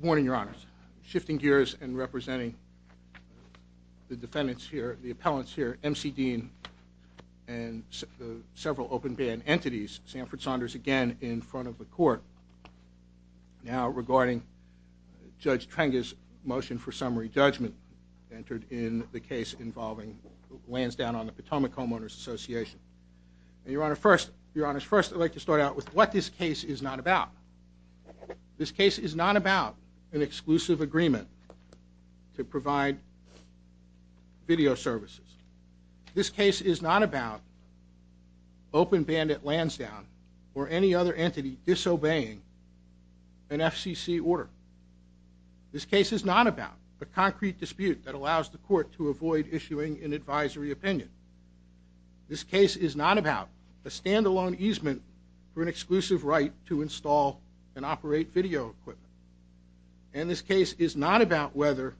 Morning, Your Honors. Shifting gears and representing the defendants here, the appellants here, M.C. Dean and the several open band entities, Sanford Saunders again in front of the court, now regarding Judge Trenger's motion for summary judgment entered in the case involving Lansdowne on the Potomac Homeowners Association. And Your Honor, first, Your Honors, first I'd like to start out with what this case is not about. This case is not about an exclusive agreement to provide video services. This case is not about Openband at Lansdowne or any other entity disobeying an FCC order. This case is not about a concrete dispute that allows the court to avoid issuing an advisory opinion. This case is not about a standalone easement for an exclusive right to install and operate video equipment. And this case is not about whether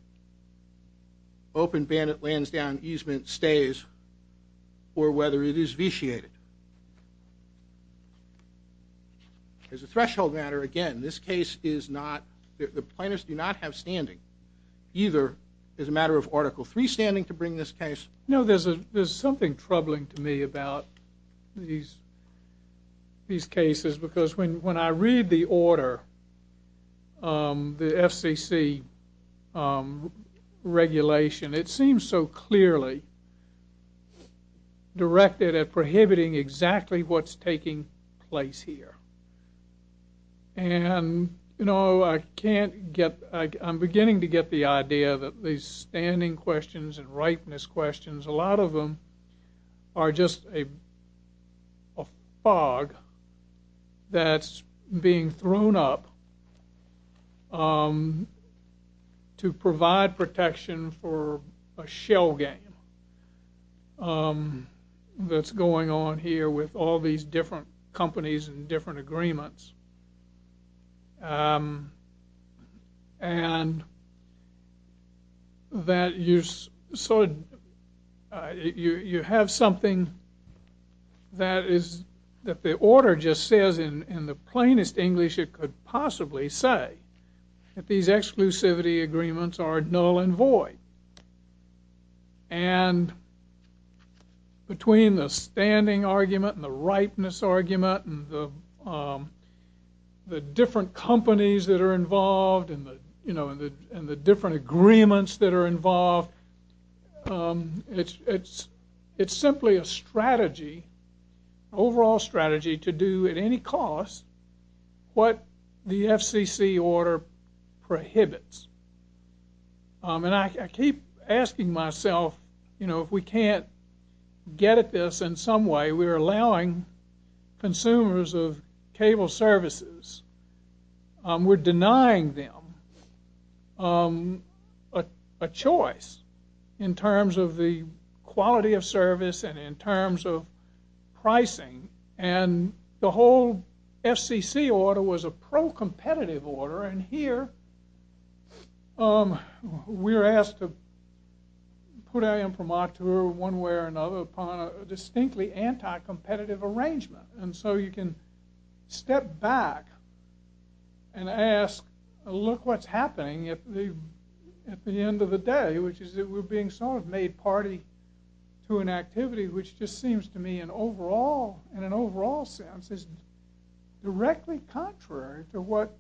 Openband at Lansdowne easement stays or whether it is vitiated. As a threshold matter, again, this case is not, the plaintiffs do not have standing either as a matter of Article 3 standing to bring this case. No, there's a, there's something troubling to me about these these cases because when when I read the order, the FCC regulation, it seems so clearly directed at prohibiting exactly what's taking place here. And, you know, I can't get, I'm beginning to get the idea that these standing questions and rightness questions, a lot of them are just a fog that's being thrown up to provide protection for a shell game that's going on here with all these different companies and different agreements. And that you sort of, you have something that is, that the order just says in the plainest English it could possibly say, that these exclusivity agreements are null and void. And between the standing argument and the rightness argument and the different companies that are involved and the, you know, and the different agreements that are involved, it's simply a strategy, overall strategy, to do at any cost what the FCC order prohibits. And I keep asking myself, you know, if we can't get at this in some way, we're allowing consumers of cable services, we're denying them a choice in terms of the quality of service and in terms of pricing. And the whole FCC order was a pro-competitive order and here we're asked to put our imprimatur one way or another upon a distinctly anti-competitive arrangement. And so you can step back and ask, look what's happening at the end of the day, which is that we're being sort of made party to an activity which just seems to me an overall, in an overall sense, is directly contrary to what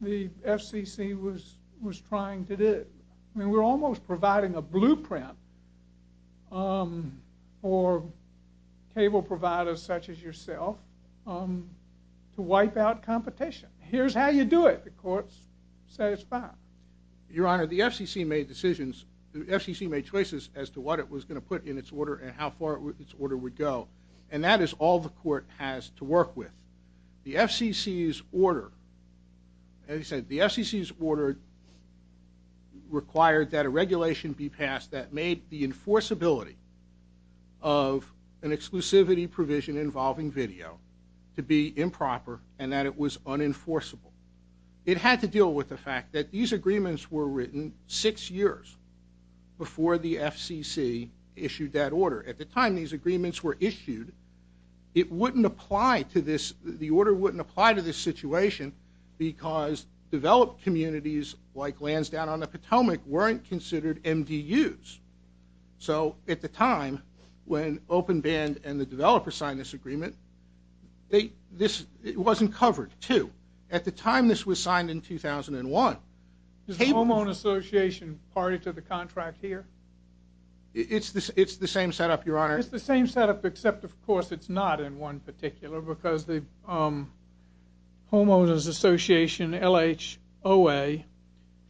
the FCC was trying to do. I mean, we're almost providing a blueprint for cable providers such as yourself to wipe out competition. Here's how you do it. The court's satisfied. Your Honor, the FCC made decisions, the FCC made choices as to what it was going to put in its order and how far its order would go. And that is all the court has to work with. The FCC's order, as I said, the FCC's order required that a regulation be passed that made the enforceability of an exclusivity provision involving video to be improper and that it was unenforceable. It had to deal with the fact that these agreements were written six years before the FCC issued that order. At the time these agreements were issued, it wouldn't apply to this, the order wouldn't apply to this situation because developed communities like Lansdowne-on-the-Potomac weren't considered MDUs. So at the time when OpenBand and the developers signed this agreement, it wasn't covered too. At the time this was signed in 2001, Is the Homeowners Association party to the contract here? It's the same setup, Your Honor. It's the same setup except, of course, it's not in one particular because the Homeowners Association, LHOA,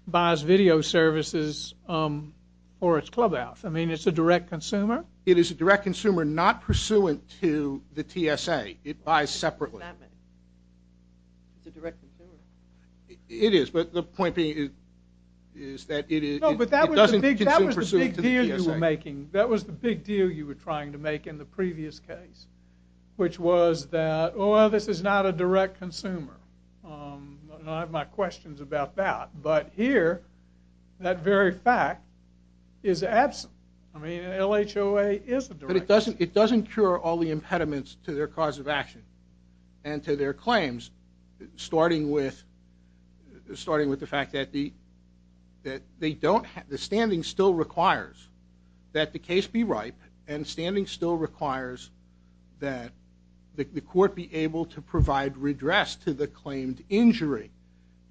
buys video services for its clubhouse. I mean, it's a direct consumer? It is a direct consumer, not I have my questions about that. But here, that very fact is absent. I mean, LHOA is a direct consumer. It doesn't cure all the impediments to their cause of action and to their that the standing still requires that the case be ripe and standing still requires that the court be able to provide redress to the claimed injury.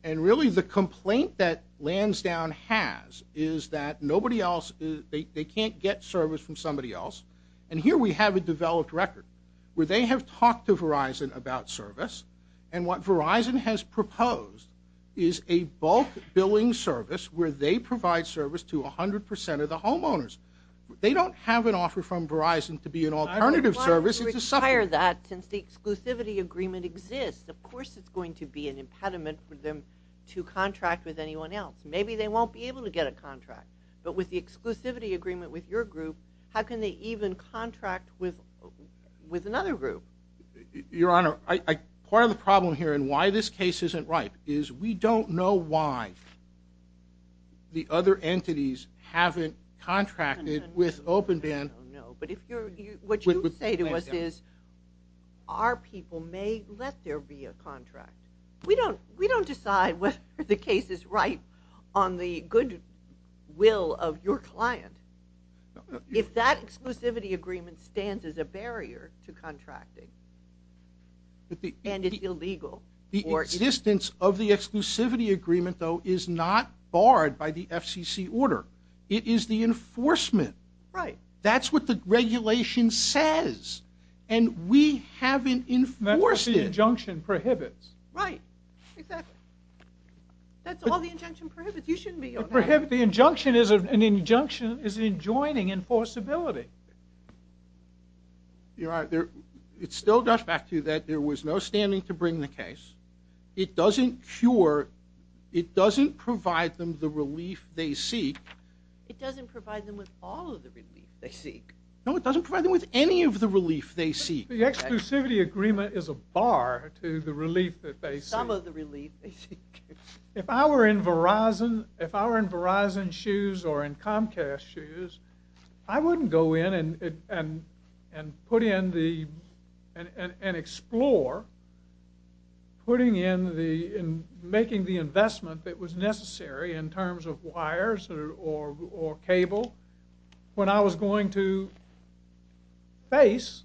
And really the complaint that Lansdowne has is that nobody else, they can't get service from somebody else. And here we have a developed record where they have talked to Verizon about service and what Verizon has proposed is a bulk billing service where they provide service to a hundred percent of the homeowners. They don't have an offer from Verizon to be an alternative service, it's a sufferer. Since the exclusivity agreement exists, of course it's going to be an impediment for them to contract with anyone else. Maybe they won't be able to get a contract, but with the exclusivity agreement with your group, how can they even contract with another group? Your Honor, part of the problem here and why this case isn't ripe is we don't know why the other entities haven't contracted with Openband. But what you say to us is our people may let there be a contract. We don't decide whether the case is ripe on the good will of your client. If that exclusivity agreement stands as a barrier to contracting, and it's illegal. The existence of the exclusivity agreement, though, is not barred by the FCC order. It is the enforcement. Right. That's what the regulation says and we haven't enforced it. That's what the injunction prohibits. Right, exactly. That's all the injunction prohibits. You shouldn't be on that. The injunction is an injunction is an adjoining enforceability. You're right. It still goes back to that there was no standing to bring the case. It doesn't cure, it doesn't provide them the relief they seek. It doesn't provide them with all of the relief they seek. No, it doesn't provide them with any of the relief they seek. The exclusivity agreement is a bar to the relief that they seek. Some of the relief they seek. If I were in Verizon's shoes or in Comcast's shoes, I wouldn't go in and put in the, and explore, putting in the, making the investment that was necessary in terms of wires or cable when I was going to face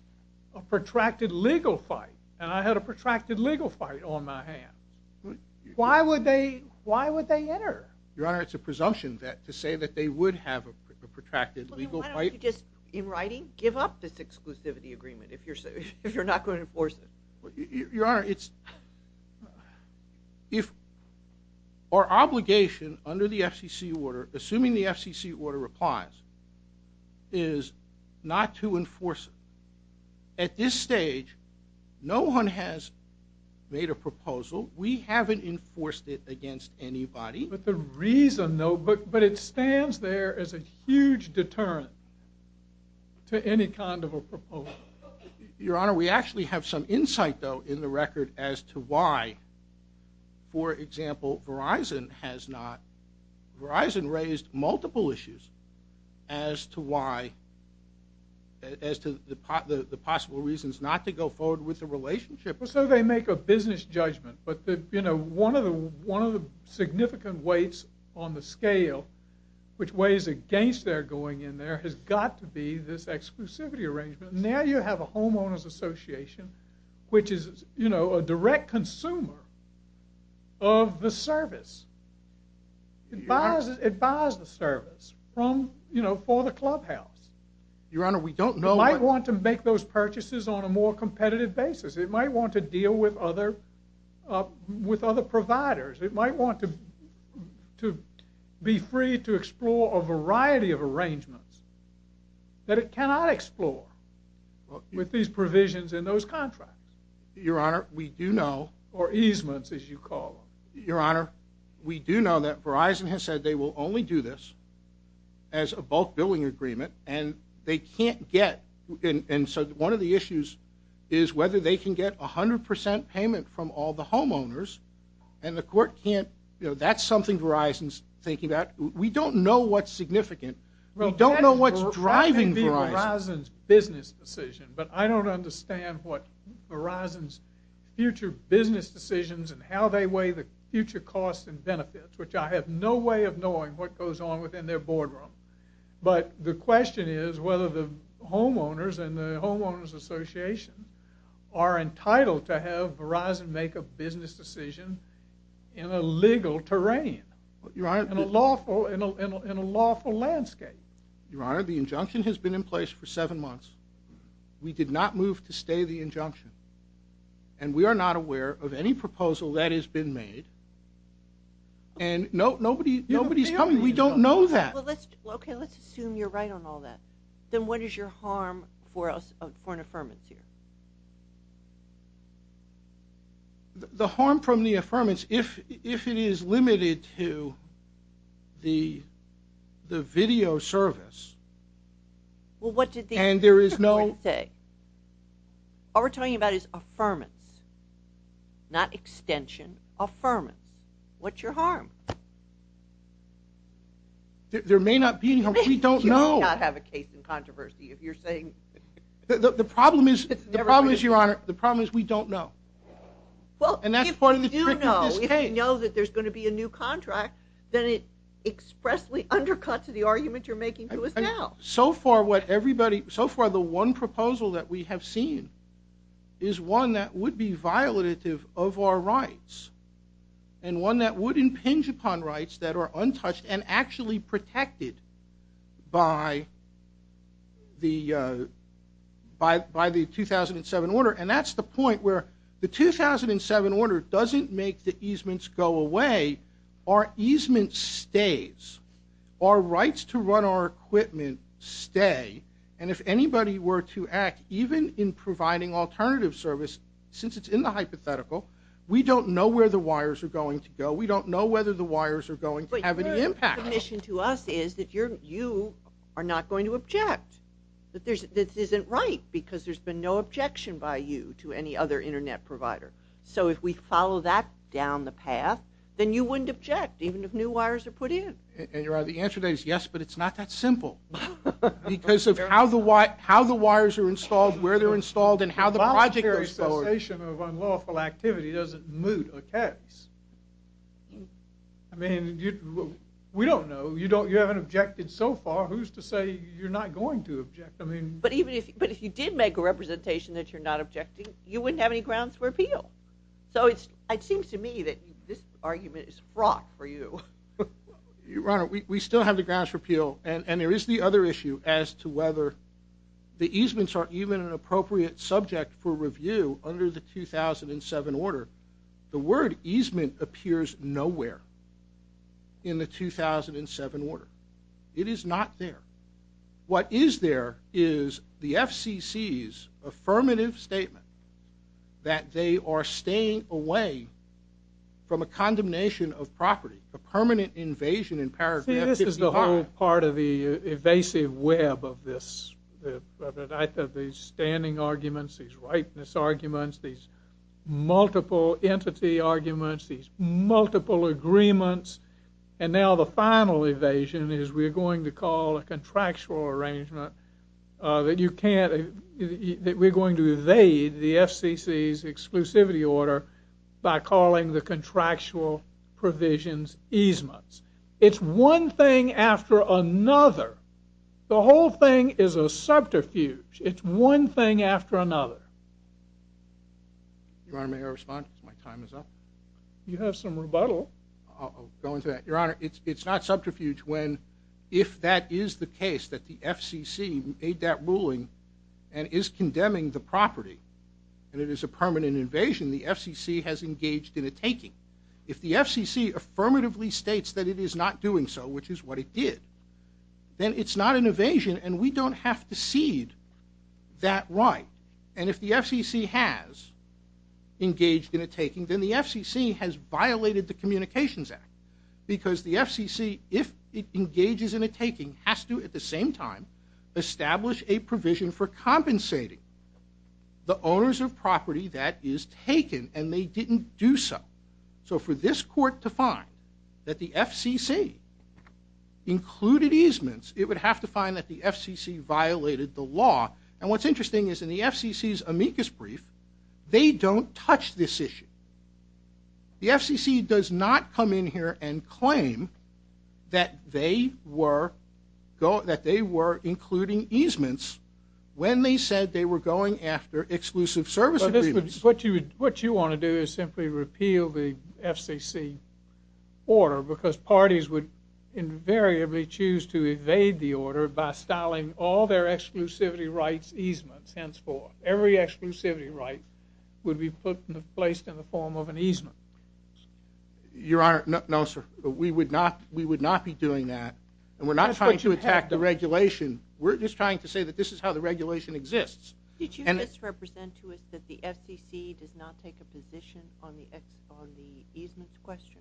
a protracted legal fight. And I had a protracted legal fight on my hand. Why would they, why would they enter? Your assumption that to say that they would have a protracted legal fight. Why don't you just, in writing, give up this exclusivity agreement if you're, if you're not going to enforce it. Your Honor, it's, if our obligation under the FCC order, assuming the FCC order applies, is not to enforce it. At this stage, no one has made a proposal. We haven't enforced it against anybody. But the reason, though, but it stands there as a huge deterrent to any kind of a proposal. Your Honor, we actually have some insight, though, in the record as to why, for example, Verizon has not, Verizon raised multiple issues as to why, as to the possible reasons not to go forward with the relationship. So they make a business judgment. But the, you know, one of the, one of the significant weights on the scale which weighs against their going in there has got to be this exclusivity arrangement. Now you have a Homeowners Association, which is, you know, a direct consumer of the service. It buys, it buys the service from, you know, for the clubhouse. Your Honor, we don't know. I want to make those purchases on a more competitive basis. It might want to deal with other, uh, with other providers. It might want to be free to explore a variety of arrangements that it cannot explore with these provisions in those contracts. Your Honor, we do know or easements, as you call your honor. We do know that Verizon has said they will only do this as a bulk billing agreement. And they can't get, and so one of the issues is whether they can get a hundred percent payment from all the homeowners. And the court can't, you know, that's something Verizon's thinking about. We don't know what's significant. We don't know what's driving Verizon's business decision. But I don't understand what Verizon's future business decisions and how they weigh the future costs and benefits, which I have no way of knowing what goes on within their boardroom. But the question is whether the homeowners and the homeowners association are entitled to have Verizon make a business decision in a legal terrain. Your Honor, in a lawful, in a lawful landscape. Your Honor, the injunction has been in place for seven months. We did not move to stay the injunction, and we are not aware of any proposal that has been made. And no, nobody's coming. We don't know that. Okay, let's assume you're right on all that. Then what is your harm for us, for an affirmance here? The harm from the affirmance, if it is limited to the video service, and there is no... All we're talking about is affirmance, not extension. Affirmance. What's your harm? There may not be any harm. We don't know. You may not have a case in controversy if you're saying... The problem is, Your Honor, the problem is we don't know. Well, if you do know, if you know that there's going to be a new contract, then it expressly undercuts the argument you're making to us now. So far what everybody, so far the one proposal that we have seen is one that would impinge upon rights that are untouched and actually protected by the 2007 order. And that's the point where the 2007 order doesn't make the easements go away. Our easements stays. Our rights to run our equipment stay. And if anybody were to act, even in providing alternative service, since it's in the know whether the wires are going to have any impact. The mission to us is that you're, you are not going to object. That this isn't right, because there's been no objection by you to any other internet provider. So if we follow that down the path, then you wouldn't object, even if new wires are put in. And Your Honor, the answer to that is yes, but it's not that simple. Because of how the wires are installed, where they're installed, and how the project goes forward. Voluntary cessation of unlawful activity doesn't moot a case. I mean, we don't know. You don't, you haven't objected so far. Who's to say you're not going to object? I mean. But even if, but if you did make a representation that you're not objecting, you wouldn't have any grounds for appeal. So it's, it seems to me that this argument is fraught for you. Your Honor, we still have the grounds for appeal. And there is the other issue as to whether the easements are even an appropriate subject for review under the 2007 order. The word easement appears nowhere in the 2007 order. It is not there. What is there is the FCC's affirmative statement that they are staying away from a condemnation of property, a permanent invasion in paragraph. See, this is the whole part of the evasive web of this, of these standing arguments, these rightness arguments, these multiple entity arguments, these multiple agreements. And now the final evasion is we're going to call a contractual arrangement that you can't, that we're going to evade the FCC's exclusivity order by calling the contractual provisions easements. It's one thing after another. The whole thing is a subterfuge. It's one thing after another. Your Honor, may I respond? My time is up. You have some rebuttal. I'll go into that. Your Honor, it's not subterfuge when, if that is the case, that the FCC made that ruling and is condemning the property and it is a permanent invasion, the FCC has engaged in a taking. If the FCC affirmatively states that it is not doing so, which is what it did, then it's not an evasion and we don't have to cede that right. And if the FCC has engaged in a taking, then the FCC has violated the Communications Act. Because the FCC, if it engages in a taking, has to, at the same time, establish a provision for compensating the owners of property that is taken and they didn't do so. So for this court to find that the FCC included easements, it would have to find that the FCC violated the law. And what's interesting is in the FCC's amicus brief, they don't touch this issue. The FCC does not come in here and claim that they were including easements when they said they were going after exclusive service agreements. What you want to do is simply repeal the FCC order because parties would invariably choose to evade the order by styling all their exclusivity rights easements, henceforth. Every exclusivity right would be placed in the form of an easement. Your Honor, no sir. We would not, we would not be doing that and we're not trying to attack the regulation. We're just trying to say that this is how the regulation exists. Did you just represent to us that the FCC does not take a position on the easements question?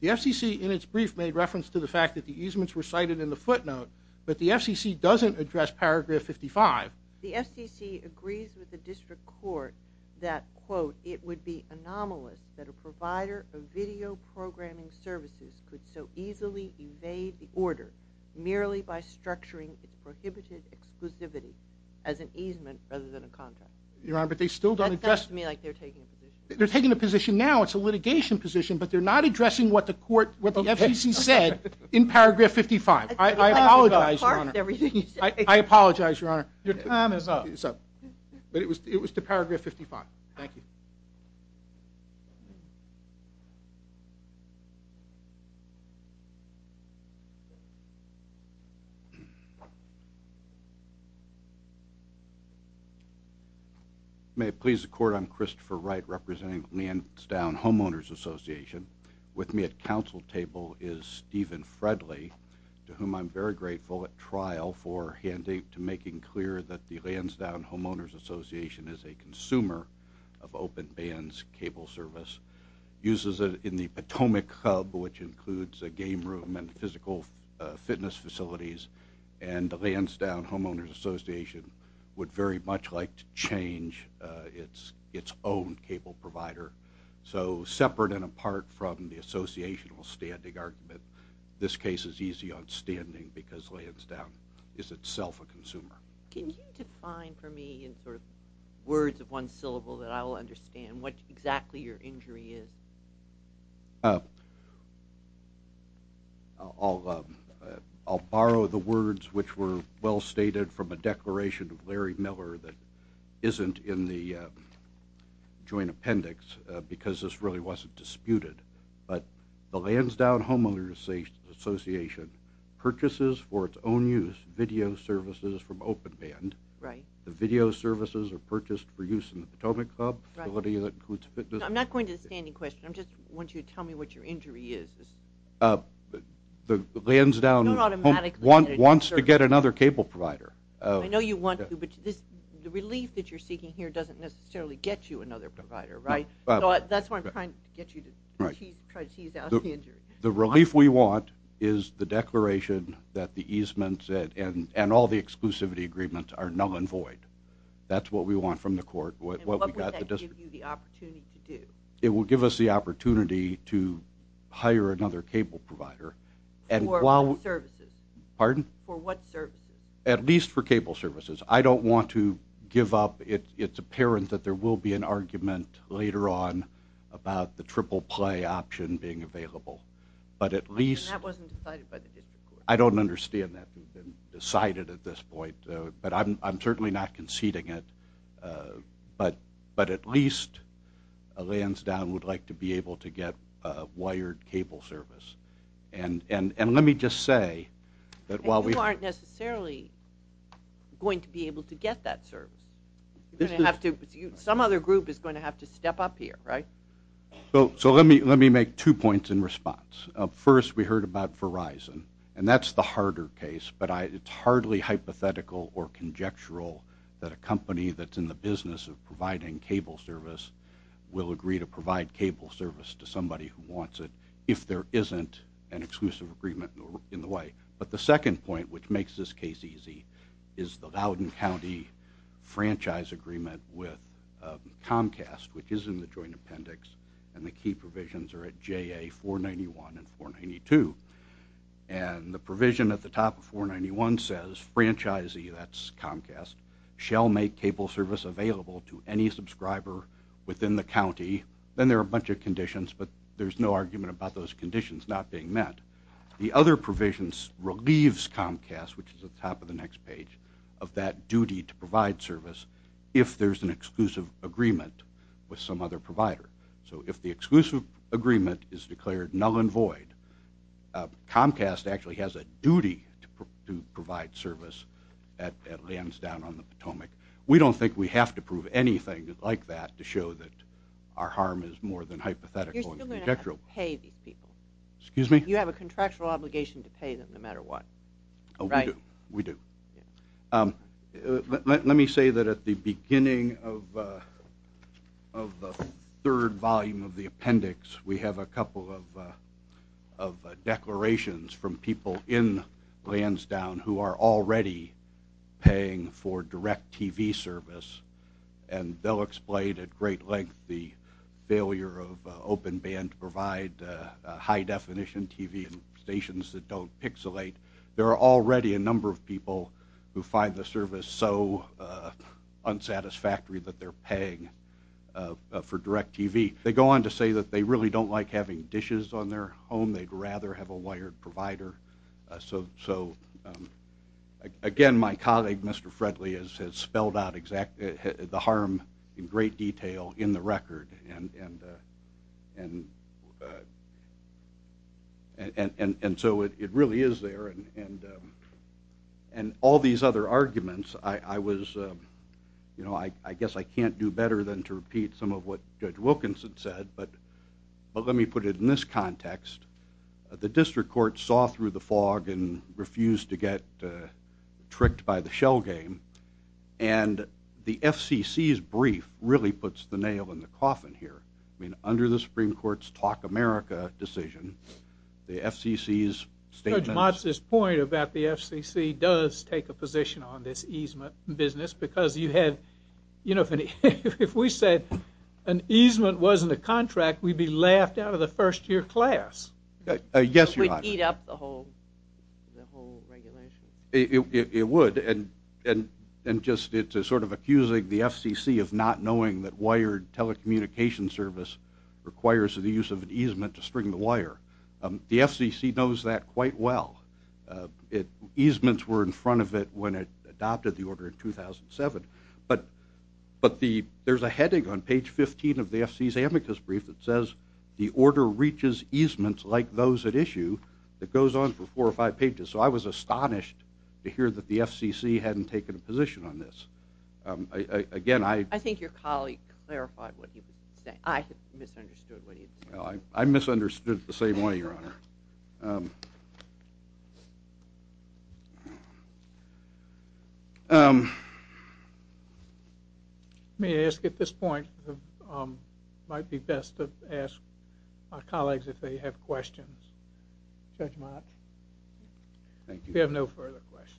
The FCC, in its brief, made reference to the fact that the easements were cited in the footnote, but the FCC doesn't address paragraph 55. The FCC agrees with the District Court that, quote, it would be anomalous that a provider of video programming services could so easily evade the order merely by structuring its prohibited exclusivity as an easement rather than a contract. Your Honor, but they still don't address... That sounds to me like they're taking a position. They're taking a position now. It's a litigation position, but they're not addressing what the court, what the FCC said in paragraph 55. I apologize, Your Honor. I apologize, Your Honor. Your time is up. But it was, it was to paragraph 55. Thank you. May it please the Court, I'm Christopher Wright representing Lansdowne Homeowners Association. With me at counsel table is Stephen Fredley, to whom I'm very grateful at trial for handing to making clear that the Lansdowne Homeowners Association is a consumer of open bands cable service, uses it in the physical fitness facilities, and the Lansdowne Homeowners Association would very much like to change its, its own cable provider. So separate and apart from the associational standing argument, this case is easy on standing because Lansdowne is itself a consumer. Can you define for me in sort of words of one I'll borrow the words which were well stated from a declaration of Larry Miller that isn't in the joint appendix because this really wasn't disputed, but the Lansdowne Homeowners Association purchases for its own use video services from open band. Right. The video services are purchased for use in the question I'm just want you to tell me what your injury is. The Lansdowne wants to get another cable provider. I know you want to, but the relief that you're seeking here doesn't necessarily get you another provider, right? That's why I'm trying to get you to try to tease out the injury. The relief we want is the declaration that the easements and all the exclusivity agreements are null and void. That's what we want from the court. What would that give you the opportunity to hire another cable provider? For what services? At least for cable services. I don't want to give up, it's apparent that there will be an argument later on about the triple-play option being available, but at least I don't understand that decided at this point, but I'm certainly not conceding it, but at least Lansdowne would like to be able to get a wired cable service. And let me just say that while we aren't necessarily going to be able to get that service, some other group is going to have to step up here, right? So let me make two points in response. First, we heard about Verizon and that's the harder case, but it's hardly hypothetical or that a company that's in the business of providing cable service will agree to provide cable service to somebody who wants it if there isn't an exclusive agreement in the way. But the second point which makes this case easy is the Loudoun County franchise agreement with Comcast, which is in the joint appendix and the key provisions are at JA 491 and 492, and the provision at the top of 491 says franchisee, that's Comcast, shall make cable service available to any subscriber within the county. Then there are a bunch of conditions, but there's no argument about those conditions not being met. The other provisions relieves Comcast, which is at the top of the next page, of that duty to provide service if there's an exclusive agreement with some other provider. So if the exclusive agreement is declared null and void, Comcast actually has a duty to provide service at Lansdowne on the Potomac. We don't think we have to prove anything like that to show that our harm is more than hypothetical. You're still going to have to pay these people. Excuse me? You have a contractual obligation to pay them no matter what, right? We do. Let me say that at the beginning of the third volume of the service, we have a couple of declarations from people in Lansdowne who are already paying for direct TV service, and they'll explain at great length the failure of Open Band to provide high-definition TV stations that don't pixelate. There are already a number of people who find the service so unsatisfactory that they're paying for direct TV. They go on to say that they really don't like having dishes on their home. They'd rather have a wired provider. So again, my colleague, Mr. Fredley, has spelled out the harm in great detail in the record, and so it can't do better than to repeat some of what Judge Wilkinson said, but let me put it in this context. The District Court saw through the fog and refused to get tricked by the shell game, and the FCC's brief really puts the nail in the coffin here. I mean, under the Supreme Court's Talk America decision, the FCC's statement... Judge Motz's point about the FCC does take a easement business, because you had, you know, if we said an easement wasn't a contract, we'd be laughed out of the first-year class. Yes, Your Honor. It would eat up the whole regulation. It would, and just it's sort of accusing the FCC of not knowing that wired telecommunication service requires the use of an easement to string the wire. The FCC knows that quite well. Easements were in front of it when it adopted the order in 2007, but there's a heading on page 15 of the FCC's amicus brief that says, the order reaches easements like those at issue. It goes on for four or five pages, so I was astonished to hear that the FCC hadn't taken a position on this. Again, I... I think your colleague clarified what he was saying. I misunderstood what he was saying. I misunderstood the same way, Your Honor. May I ask, at this point, it might be best to ask our colleagues if they have questions. Judge Motz? Thank you. We have no further questions.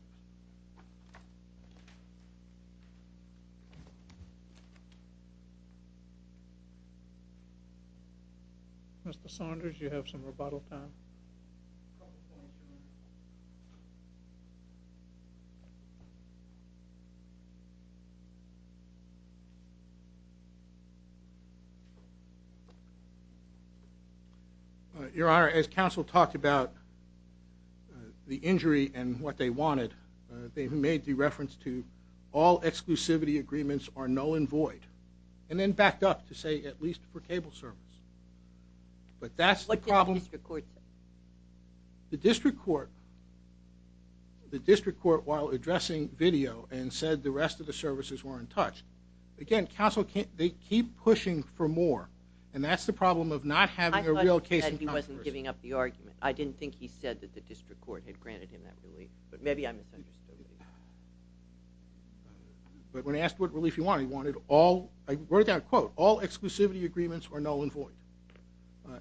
Mr. Saunders, you have some rebuttal time. Your Honor, as counsel talked about the injury and what they wanted, they made the reference to all exclusivity agreements are null and void, and then backed up to say, at least for cable service. What did the district court say? The district court, the district court while addressing video and said the rest of the services weren't touched. Again, counsel can't... they keep pushing for more, and that's the problem of not having a real case in controversy. I thought he said he wasn't giving up the argument. I didn't think he said that the district court had granted him that relief, but maybe I misunderstood. But when asked what relief he wanted, he wanted all... I wrote down a quote, all exclusivity agreements are null and void.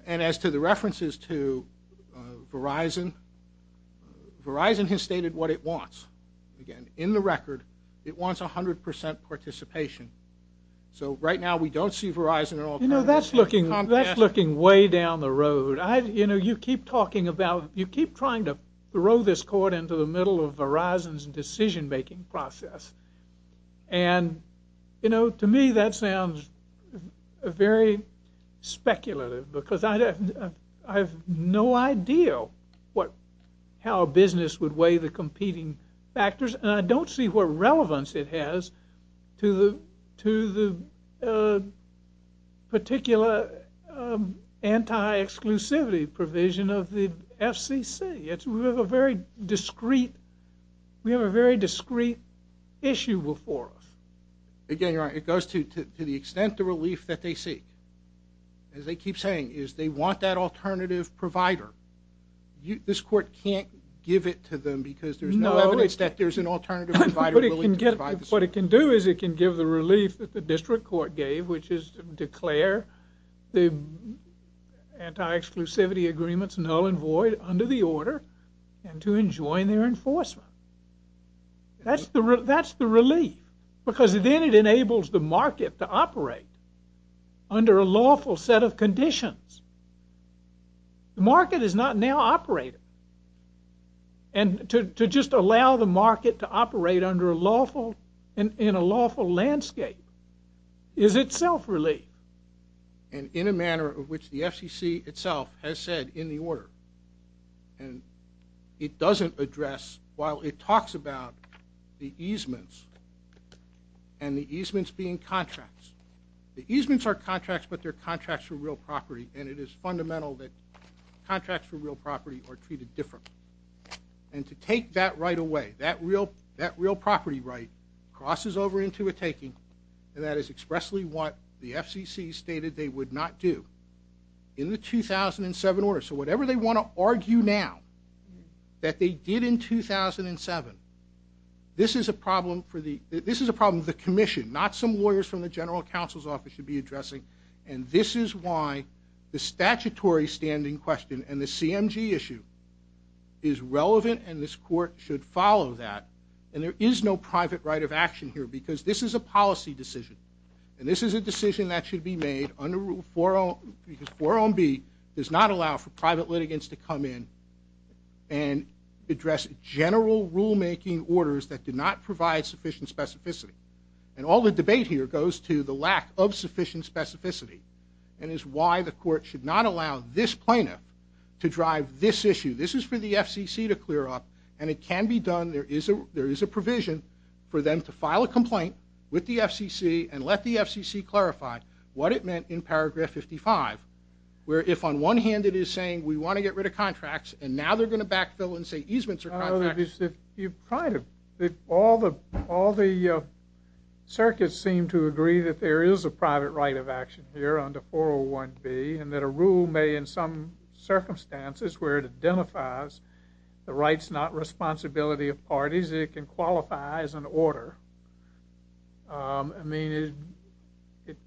And as to the references to Verizon, Verizon has stated what it wants. Again, in the record, it wants 100% participation. So, right now, we don't see Verizon at all. You know, that's looking way down the road. You know, you keep talking about... you keep trying to throw this court into the middle of Verizon's decision-making process. And, you know, to me, that sounds very speculative, because I have no idea what... how a business would weigh the competing factors, and I don't see what relevance it has to the... ...particular anti-exclusivity provision of the FCC. It's... we have a very discreet... we have a very discreet issue before us. Again, you're right. It goes to the extent the relief that they seek. As they keep saying, is they want that alternative provider. This court can't give it to them because there's no evidence that there's an alternative provider... ...the market enables the market to operate under a lawful set of conditions. The market is not now operating. And to just allow the market to operate under a lawful... in a lawful landscape is itself relief. And in a manner of which the FCC itself has said in the order, and it doesn't address while it talks about the easements, and the easements being contracts. The easements are contracts, but they're contracts for real property, and it is fundamental that contracts for real property are treated differently. And to take that right away, that real... that real property right crosses over into a taking, and that is expressly what the FCC stated they would not do in the 2007 order. So whatever they want to argue now that they did in 2007, this is a problem for the... this is a problem for the commission, not some lawyers from the general counsel's office should be addressing. And this is why the statutory standing question and the CMG issue is relevant and this court should follow that. And there is no private right of action here because this is a policy decision. And this is a decision that should be made under Rule 4... because 4.0B does not allow for private litigants to come in and address general rulemaking orders that do not provide sufficient specificity. And all the debate here goes to the lack of sufficient specificity, and is why the court should not allow this plaintiff to drive this issue. This is for the FCC to clear up, and it can be done. There is a... there is a provision for them to file a complaint with the FCC and let the FCC clarify what it meant in paragraph 55, where if on one hand it is saying we want to get rid of contracts, and now they're going to backfill and say easements are contracts... All the... all the circuits seem to agree that there is a private right of action here under 4.0B, and that a rule may in some circumstances where it identifies the rights not responsibility of parties, it can qualify as an order. I mean, if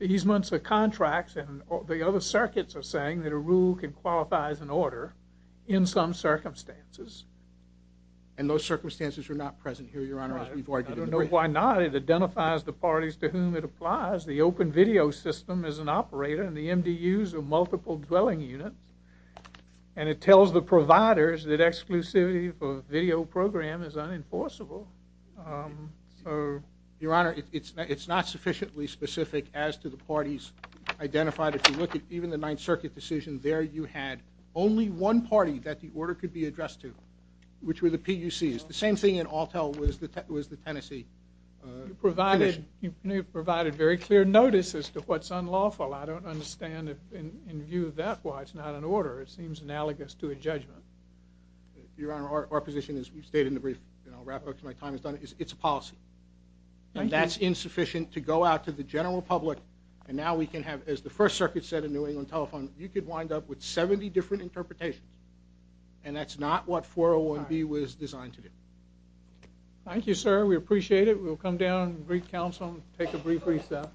easements are contracts, and the other circuits are saying that a rule can qualify as an order in some circumstances... And those circumstances are not present here, Your Honor, as we've argued in the brief. Why not? It identifies the parties to whom it applies. The open video system is an operator, and the MDUs are multiple dwelling units, and it tells the providers that exclusivity for video program is unenforceable. Your Honor, it's not sufficiently specific as to the parties identified. If you look at even the Ninth Circuit decision, there you had only one party that the order could be addressed to, which were the PUCs. The same thing in Altel was the Tennessee... You provided very clear notices to what's unlawful. I don't understand, in view of that, why it's not an order. It seems analogous to a judgment. Your Honor, our position, as we've stated in the brief, and I'll wrap up because my time is done, is it's a policy. And that's insufficient to go out to the general public, and now we can have, as the First Circuit said in New England Telephone, you could wind up with 70 different interpretations. And that's not what 401B was designed to do. Thank you, sir. We appreciate it. We'll come down and brief counsel and take a brief recess.